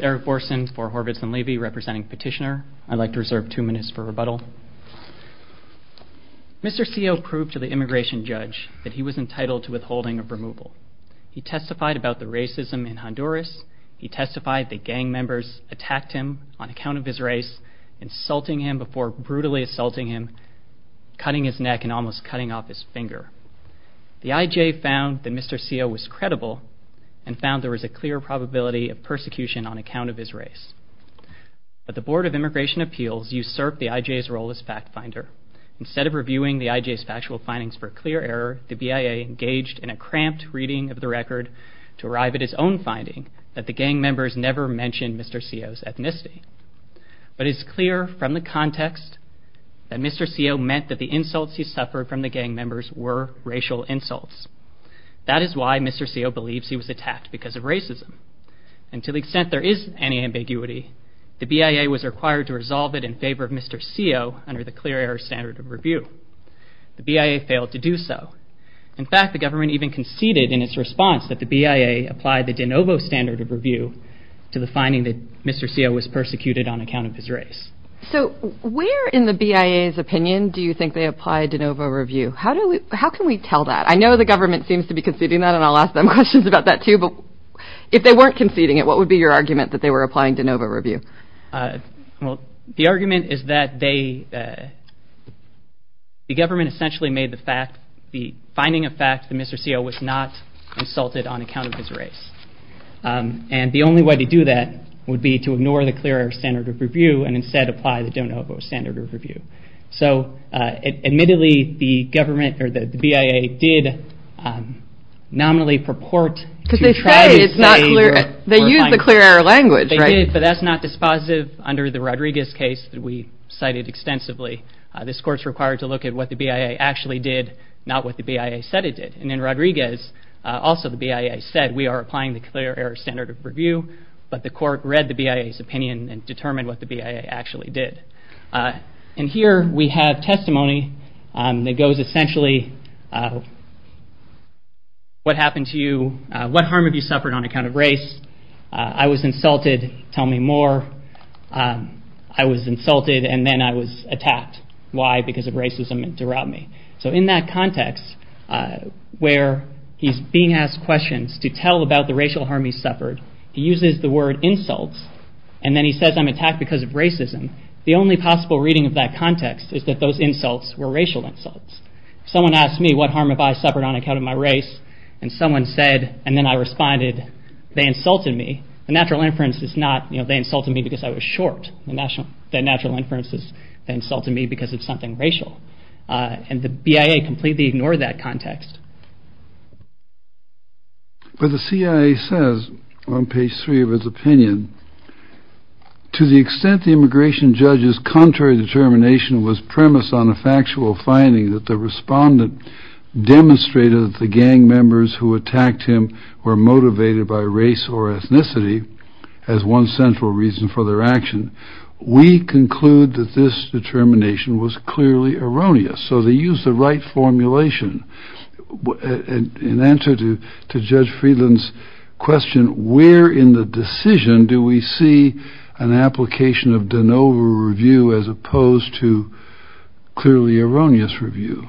Eric Borson for Horvitz & Levy representing Petitioner. I'd like to reserve two minutes for rebuttal. Mr. Tse Sio proved to the immigration judge that he was entitled to withholding of removal. He testified about the racism in Honduras. He testified that gang members attacked him on account of his race, insulting him before brutally assaulting him, cutting his neck and almost cutting off his finger. The IJ found that Mr. Tse Sio was credible and found there was a clear probability of persecution on account of his race. But the Board of Immigration Appeals usurped the IJ's role as fact finder. Instead of reviewing the IJ's factual findings for clear error, the BIA engaged in a cramped reading of the Tse Sio's ethnicity. But it's clear from the context that Mr. Tse Sio meant that the insults he suffered from the gang members were racial insults. That is why Mr. Tse Sio believes he was attacked because of racism. And to the extent there is any ambiguity, the BIA was required to resolve it in favor of Mr. Tse Sio under the clear error standard of review. The BIA failed to do so. In fact, the government even conceded in its response that the BIA apply the de novo standard of review to the finding that Mr. Tse Sio was persecuted on account of his race. So where in the BIA's opinion do you think they apply de novo review? How do we, how can we tell that? I know the government seems to be conceding that and I'll ask them questions about that too, but if they weren't conceding it, what would be your argument that they were applying de novo review? Uh, well, the argument is that they, uh, the government essentially made the fact, the finding of fact that Mr. Tse Sio was not insulted on account of his race. Um, and the only way to do that would be to ignore the clear error standard of review and instead apply the de novo standard of review. So, uh, admittedly the government or the BIA did, um, nominally purport to try to say, they use the clear error language, but that's not dispositive under the Rodriguez case that we cited extensively. Uh, this court's required to look at what the BIA actually did, not what the BIA said it did. And in Rodriguez, uh, also the BIA said we are applying the clear error standard of review, but the court read the BIA's opinion and determined what the BIA actually did. Uh, and here we have testimony, um, that goes essentially, uh, what happened to you? Uh, what harm have you suffered on account of race? Uh, I was insulted. Tell me more. Um, I was insulted and then I was attacked. Why? Because of racism derived me. So in that context, uh, where he's being asked questions to tell about the racial harm he suffered, he uses the word insults and then he says, I'm attacked because of racism. The only possible reading of that context is that those insults were racial insults. Someone asked me what harm have I suffered on account of my race? And someone said, and then I responded, they insulted me. The natural inference is not, you know, they insulted me because I was short. The national, the natural inference is they insulted me because of something racial. Uh, and the BIA completely ignored that context. But the CIA says on page three of his opinion, to the extent the immigration judge's contrary determination was premised on a factual finding that the respondent demonstrated that the gang members who attacked him were motivated by race or ethnicity as one central reason for their action, we conclude that this determination was clearly erroneous. So they use the right formulation in answer to, to judge Friedland's question, where in the decision do we see an application of DeNova review as opposed to clearly erroneous review?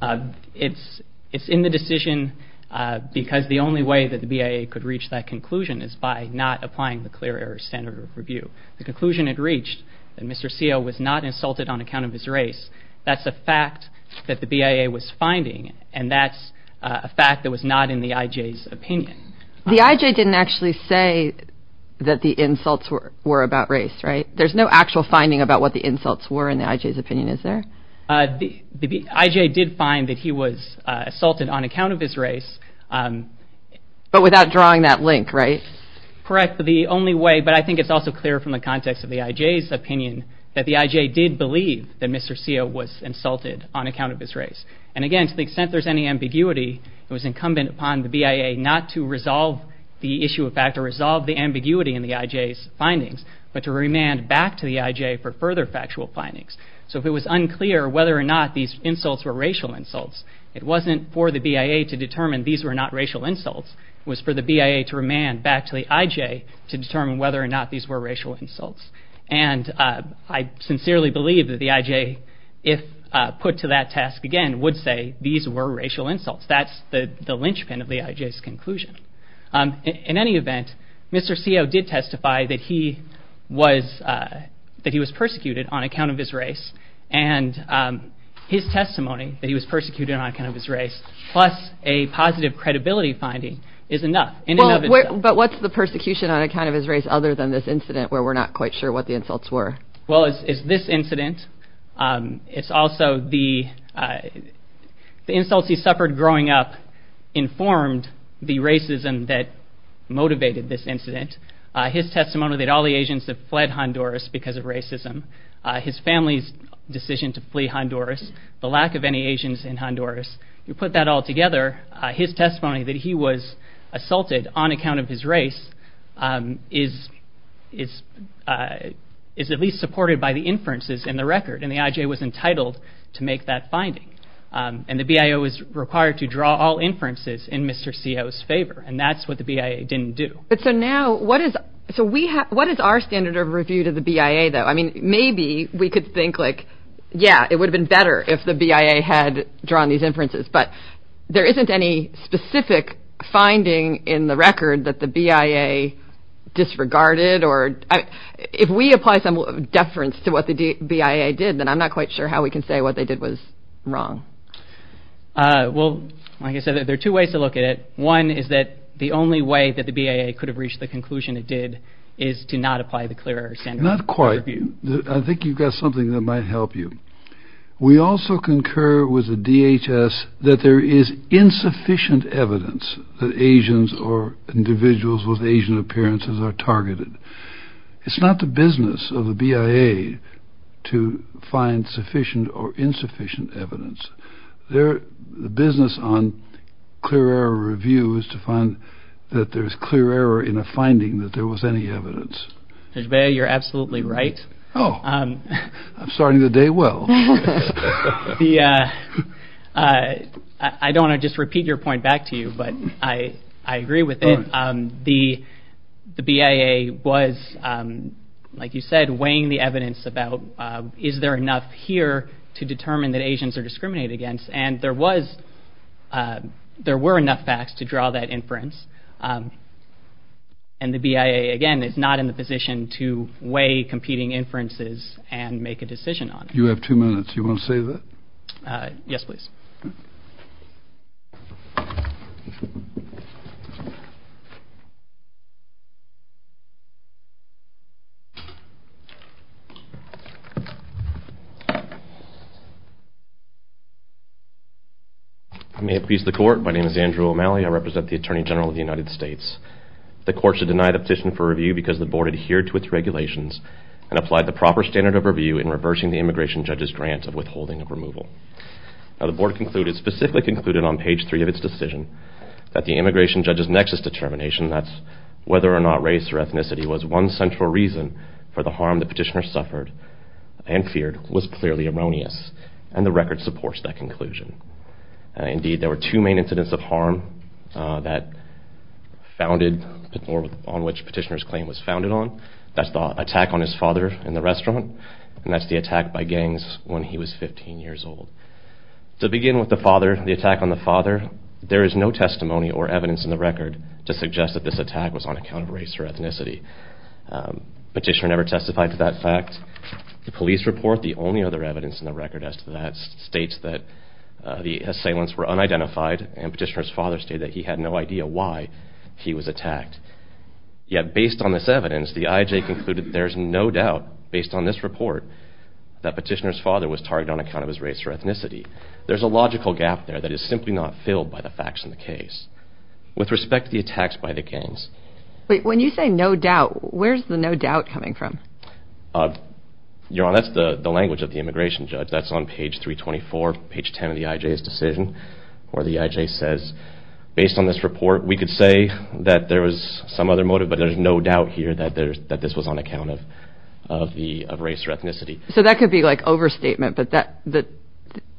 Uh, it's, it's in the decision, uh, because the only way that the BIA could reach that conclusion is by not applying the clear error standard of review. The conclusion had reached that Mr. Seale was not insulted on account of his race. That's a fact that the BIA was finding, and that's a fact that was not in the IJ's opinion. The IJ didn't actually say that the insults were, were about race, right? There's no actual finding about what the insults were in the IJ's opinion, is there? Uh, the IJ did find that he was assaulted on account of his race, um. But without drawing that link, right? Correct. The only way, but I think it's also clear from the context of the IJ's opinion that the IJ did believe that Mr. Seale was insulted on account of his race. And again, to the extent there's any ambiguity, it was incumbent upon the BIA not to resolve the issue of fact or resolve the ambiguity in the IJ's findings, but to remand back to the IJ for further factual findings. So if it was unclear whether or not these insults were racial insults, it wasn't for the BIA to determine these were not racial insults. It was for the BIA to remand back to the IJ to determine whether or not these were racial insults. And, uh, I sincerely believe that the IJ, if, uh, put to that task again, would say these were racial insults. That's the, the linchpin of the IJ's conclusion. Um, in, in any event, Mr. Seale did testify that he was, uh, that he was persecuted on account of his race. And, um, his testimony that he was persecuted on account of his race, plus a positive credibility finding is enough. Well, but what's the persecution on account of his race other than this incident where we're not quite sure what the insults were? Well, it's, it's this incident. Um, it's also the, uh, the insults he suffered growing up informed the racism that motivated this incident. Uh, his testimony that all the Asians have fled Honduras because of racism, uh, his family's decision to flee Honduras, the lack of any Asians in Honduras, you put that all together, uh, his testimony that he was assaulted on account of his race, um, is, is, uh, is at least supported by the inferences in the record. And the IJ was entitled to make that finding. Um, and the BIA was required to draw all inferences in Mr. Seale's favor. And that's what the BIA didn't do. But so now what is, so we have, what is our standard of review to the BIA though? I mean, maybe we could think like, yeah, it would have been better if the BIA had drawn these inferences, but there isn't any specific finding in the record that the BIA disregarded or if we apply some deference to what the BIA did, then I'm not quite sure how we can say what they did was wrong. Uh, well, like I said, there are two ways to look at it. One is that the only way that the BIA could have reached the conclusion it did is to not apply the clear air standard. Not quite. I think you've got something that might help you. We also concur with the DHS that there is insufficient evidence that Asians or individuals with Asian appearances are targeted. It's not the business of the BIA to find sufficient or insufficient evidence. They're the business on clearer reviews to find that there's clear error in a finding that there was any evidence. There's where you're absolutely right. Oh, um, I'm starting the day. Well, yeah. Uh, I don't want to just repeat your point back to you, but I, I agree with it. Um, the, the evidence about, uh, is there enough here to determine that Asians are discriminated against? And there was, uh, there were enough facts to draw that inference. Um, and the BIA again is not in the position to weigh competing inferences and make a decision on it. You have two minutes. You want to say that? Uh, yes, please. I may appease the court. My name is Andrew O'Malley. I represent the Attorney General of the United States. The courts have denied a petition for review because the board adhered to its regulations and applied the proper standard of review in reversing the immigration judge's grant of withholding of removal. Now the board concluded, specifically concluded on page three of its decision, that the immigration judge's nexus determination, that's whether or not race or ethnicity was one central reason for the harm the petitioner suffered and feared was clearly erroneous. And the record supports that conclusion. Uh, indeed there were two main incidents of harm, uh, that founded or on which petitioner's claim was founded on. That's the attack on his father in the restaurant and that's the attack by gangs when he was 15 years old. To begin with the father, the attack on the father, there is no testimony or evidence in the record to suggest that this attack was on account of race or ethnicity. Petitioner never testified to that fact. The police report, the only other evidence in the record as to that, states that the assailants were unidentified and petitioner's father stated that he had no idea why he was attacked. Yet based on this evidence, the IJ concluded there's no doubt, based on this report, that petitioner's father was targeted on account of his race or ethnicity. There's a logical gap there that is simply not filled by the facts in the case. With respect to the attacks by the gangs. Wait, when you say no doubt, where's the no doubt coming from? Uh, you're on, that's the language of the immigration judge. That's on page 324, page 10 of the IJ's decision where the IJ says, based on this report, we could say that there was some other motive, but there's no doubt here that there's, that this was on account of, of the, of race or ethnicity. So that could be like overstatement, but that, that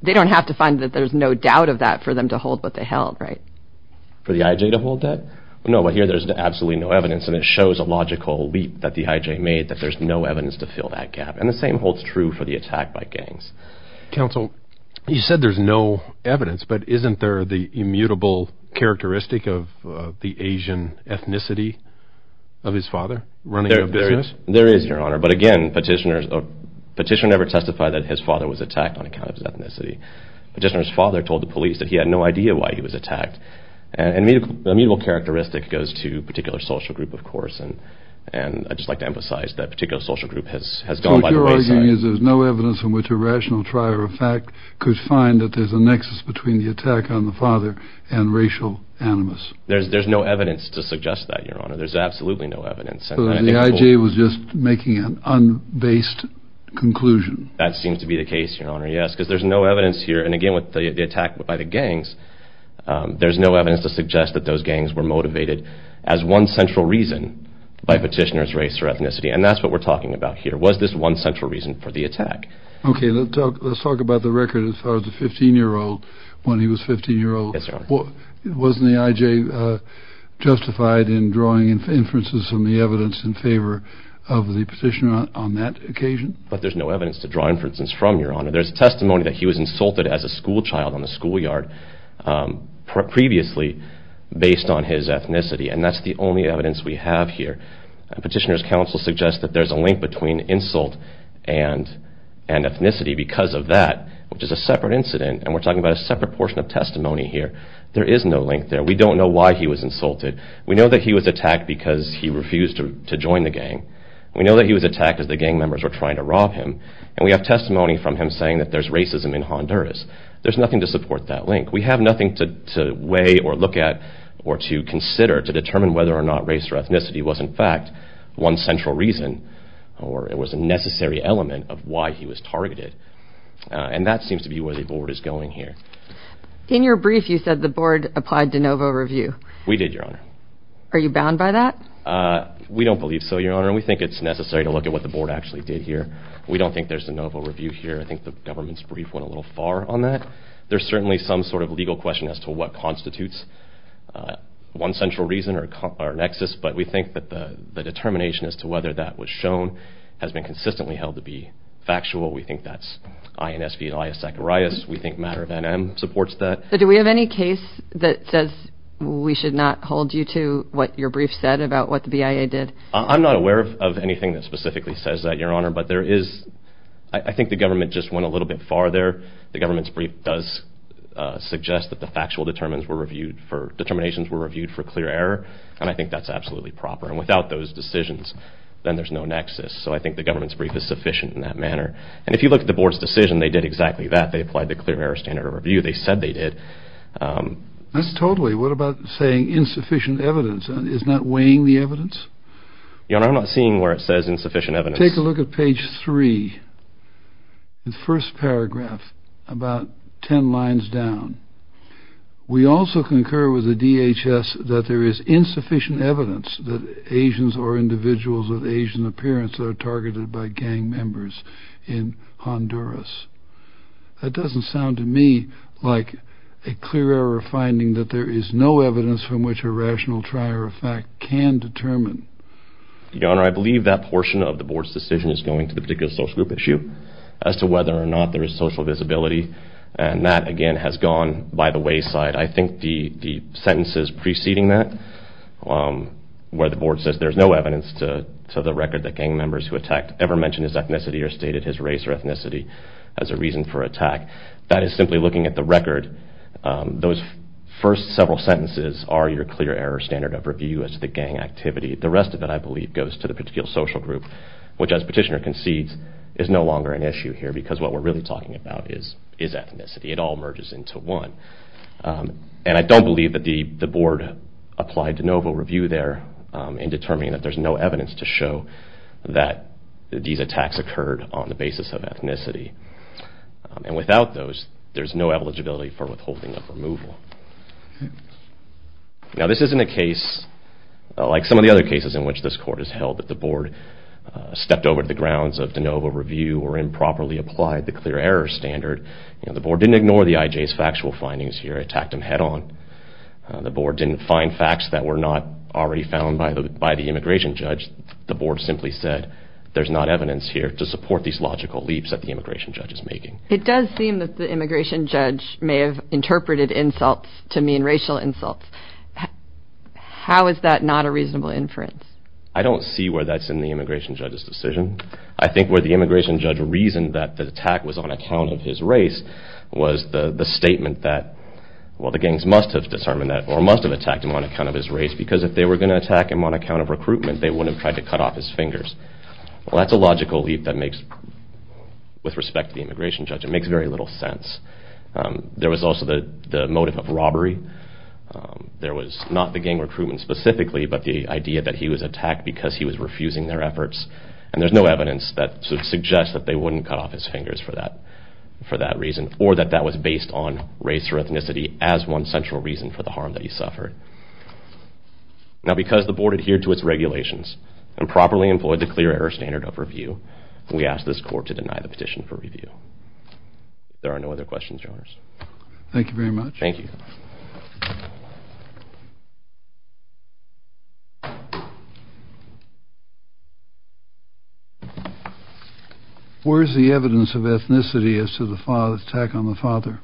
they don't have to find that there's no doubt of that for them to hold what they held, right? For the IJ to hold that? No, but here there's absolutely no evidence and it shows a logical leap that the IJ made that there's no evidence to fill that gap. And the same holds true for the attack by gangs. Counsel, you said there's no evidence, but isn't there the immutable characteristic of the Asian ethnicity of his father running a business? There is, there is, your honor. But again, petitioners, a petitioner never testified that his father was attacked on his father told the police that he had no idea why he was attacked. And immutable, immutable characteristic goes to particular social group, of course. And, and I'd just like to emphasize that particular social group has, has gone by the wayside. So what you're arguing is there's no evidence in which a rational trier of fact could find that there's a nexus between the attack on the father and racial animus. There's, there's no evidence to suggest that, your honor. There's absolutely no evidence. So the IJ was just making an un-based conclusion. That seems to be the case, your honor. Yes. Cause there's no evidence here. And again, with the attack by the gangs, there's no evidence to suggest that those gangs were motivated as one central reason by petitioner's race or ethnicity. And that's what we're talking about here. Was this one central reason for the attack? Okay. Let's talk about the record as far as the 15 year old, when he was 15 year old. Wasn't the IJ justified in drawing inferences from the evidence in favor of the petitioner on that occasion? But there's no evidence to draw inferences from your honor. There's a testimony that he was insulted as a school child on the schoolyard previously based on his ethnicity. And that's the only evidence we have here. Petitioner's counsel suggests that there's a link between insult and, and ethnicity because of that, which is a separate incident. And we're talking about a separate portion of testimony here. There is no link there. We don't know why he was insulted. We know that he was attacked because he refused to join the gang. We know that he was attacked as the gang members were trying to rob him. And we have testimony from him saying that there's racism in Honduras. There's nothing to support that link. We have nothing to weigh or look at or to consider to determine whether or not race or ethnicity was in fact one central reason, or it was a necessary element of why he was targeted. And that seems to be where the board is going here. In your brief, you said the board applied de novo review. We did, your honor. Are you bound by that? We don't believe so, your honor. And we think it's necessary to look at what the board actually did here. We don't think there's a novo review here. I think the government's brief went a little far on that. There's certainly some sort of legal question as to what constitutes one central reason or nexus, but we think that the determination as to whether that was shown has been consistently held to be factual. We think that's INS v Elias Zacharias. We think matter of NM supports that. So do we have any case that says we should not hold you to what your brief said about what the BIA did? I'm not aware of anything that specifically says that, your honor, but there is, there is, I think the government just went a little bit far there. The government's brief does suggest that the factual determinants were reviewed for, determinations were reviewed for clear error. And I think that's absolutely proper. And without those decisions, then there's no nexus. So I think the government's brief is sufficient in that manner. And if you look at the board's decision, they did exactly that. They applied the clear error standard of review. They said they did. That's totally, what about saying insufficient evidence is not weighing the evidence? Your honor, I'm not seeing where it says insufficient evidence. Take a look at page three, the first paragraph, about 10 lines down. We also concur with the DHS that there is insufficient evidence that Asians or individuals of Asian appearance are targeted by gang members in Honduras. That doesn't sound to me like a clear error finding that there is no evidence from which a rational trier of fact can determine. Your honor, the board's decision is going to the particular social group issue as to whether or not there is social visibility. And that, again, has gone by the wayside. I think the sentences preceding that, where the board says there's no evidence to the record that gang members who attacked ever mentioned his ethnicity or stated his race or ethnicity as a reason for attack, that is simply looking at the record. Those first several sentences are your clear error standard of review as to the gang activity. The rest of it, I believe, goes to the particular social group, which, as petitioner concedes, is no longer an issue here because what we're really talking about is ethnicity. It all merges into one. And I don't believe that the board applied de novo review there in determining that there's no evidence to show that these attacks occurred on the basis of ethnicity. And without those, there's no eligibility for withholding of removal. Now this isn't a case, like some of the other cases in which this court has held, that the board stepped over the grounds of de novo review or improperly applied the clear error standard. The board didn't ignore the IJ's factual findings here. It attacked them head on. The board didn't find facts that were not already found by the immigration judge. The board simply said, there's not evidence here to support these logical leaps that the immigration judge is making. It does seem that the immigration judge may have interpreted insults to mean racial insults. How is that not a reasonable inference? I don't see where that's in the immigration judge's decision. I think where the immigration judge reasoned that the attack was on account of his race was the statement that, well, the gangs must have determined that or must have attacked him on account of his race because if they were going to attack him on account of recruitment, they wouldn't have tried to cut off his fingers. Well, that's a logical leap that makes, with respect to the immigration judge, it makes very little sense. There was also the motive of robbery. There was not the gang recruitment specifically, but the idea that he was attacked because he was refusing their efforts and there's no evidence that suggests that they wouldn't cut off his fingers for that reason or that that was based on race or ethnicity as one central reason for the harm that he suffered. Now because the board adhered to its regulations and properly employed the clear error standard of review, we ask this court to deny the petition for review. There are no other questions, Your Honors. Thank you very much. Thank you. Where is the evidence of ethnicity as to the attack on the father?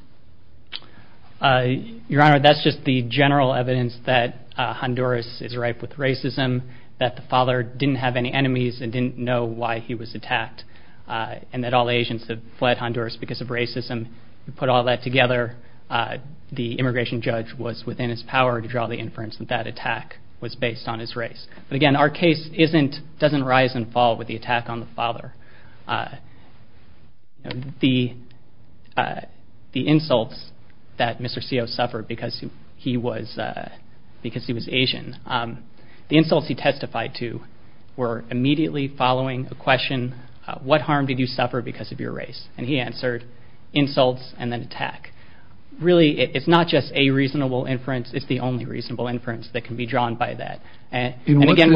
Your Honor, that's just the general evidence that Honduras is ripe with racism, that the immigration judge was within his power to draw the inference that that attack was based on his race. But again, our case doesn't rise and fall with the attack on the father. The insults that Mr. Seale suffered because he was Asian, the insults he testified to were immediately following a question, what harm did you suffer because of your race? And he answered insults and then attack. Really, it's not just a reasonable inference. It's the only reasonable inference that can be drawn by that. And again,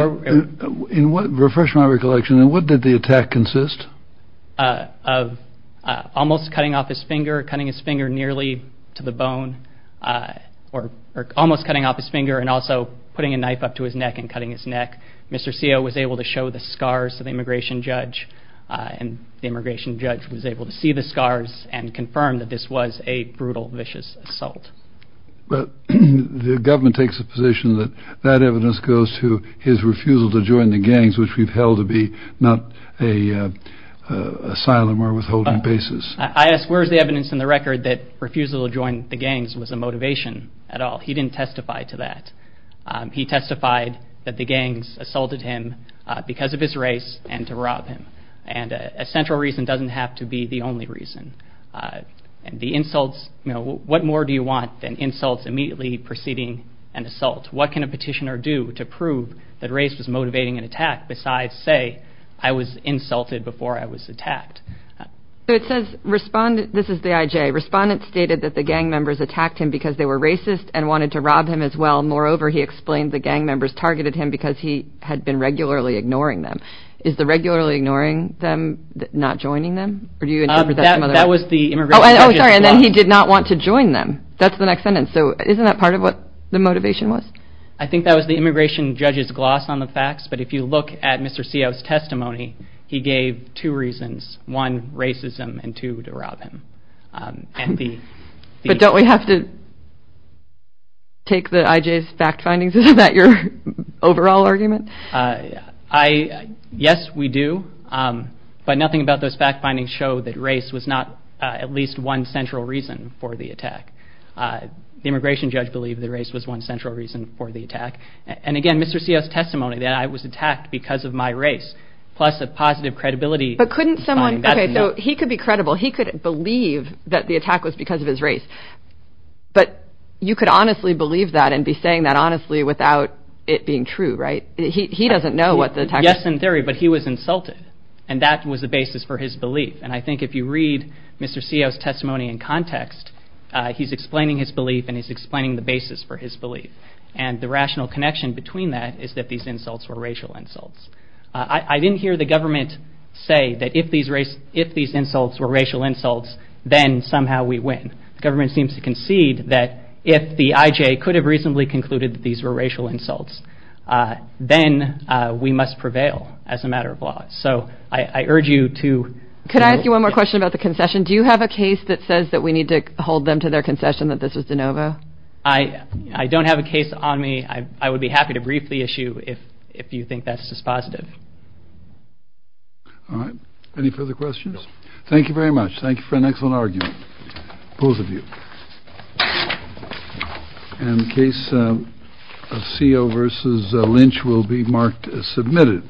in what, refresh my recollection, in what did the attack consist? Of almost cutting off his finger, cutting his finger nearly to the bone or almost cutting off his finger and also putting a knife up to his neck and cutting his neck. Mr. Seale was able to show the scars of the immigration judge and the immigration judge was able to see the scars and confirm that this was a brutal, vicious assault. But the government takes the position that that evidence goes to his refusal to join the gangs, which we've held to be not a asylum or withholding basis. I ask where's the evidence in the record that refusal to join the gangs was a motivation at all? He didn't testify to that. He testified that the gangs assaulted him because of his race and to rob him. And a central reason doesn't have to be the only reason. And the insults, you know, what more do you want than insults immediately preceding an assault? What can a petitioner do to prove that race was motivating an attack besides, say, I was insulted before I was attacked? So it says respondent, this is the IJ, respondent stated that the gang members attacked him because they were racist and wanted to rob him as well. Moreover, he explained the gang members targeted him because he had been regularly ignoring them. Is the regularly ignoring them not joining them or do you interpret that some other way? That was the immigration judge's gloss. Oh, sorry. And then he did not want to join them. That's the next sentence. So isn't that part of what the motivation was? I think that was the immigration judge's gloss on the facts. But if you look at Mr. Seale's testimony, he gave two reasons. One, racism and two, to rob him. But don't we have to take the IJ's fact findings? Isn't that your overall argument? Yes, we do. But nothing about those fact findings show that race was not at least one central reason for the attack. The immigration judge believed that race was one central reason for the attack. And again, Mr. Seale's testimony that I was attacked because of my race, plus a positive credibility. So he could be credible. He could believe that the attack was because of his race. But you could honestly believe that and be saying that honestly without it being true, right? He doesn't know what the attack was. Yes, in theory, but he was insulted. And that was the basis for his belief. And I think if you read Mr. Seale's testimony in context, he's explaining his belief and he's explaining the basis for his belief. And the rational connection between that is that these insults were racial insults. I didn't hear the government say that if these insults were racial insults, then somehow we win. The government seems to concede that if the IJ could have reasonably concluded that these were racial insults, then we must prevail as a matter of law. So I urge you to... Could I ask you one more question about the concession? Do you have a case that says that we need to hold them to their concession that this was de novo? I don't have a case on me. I would be happy to brief the issue if you think that's just positive. All right. Any further questions? Thank you very much. Thank you for an excellent argument, both of you. And the case of Seale versus Lynch will be marked as submitted.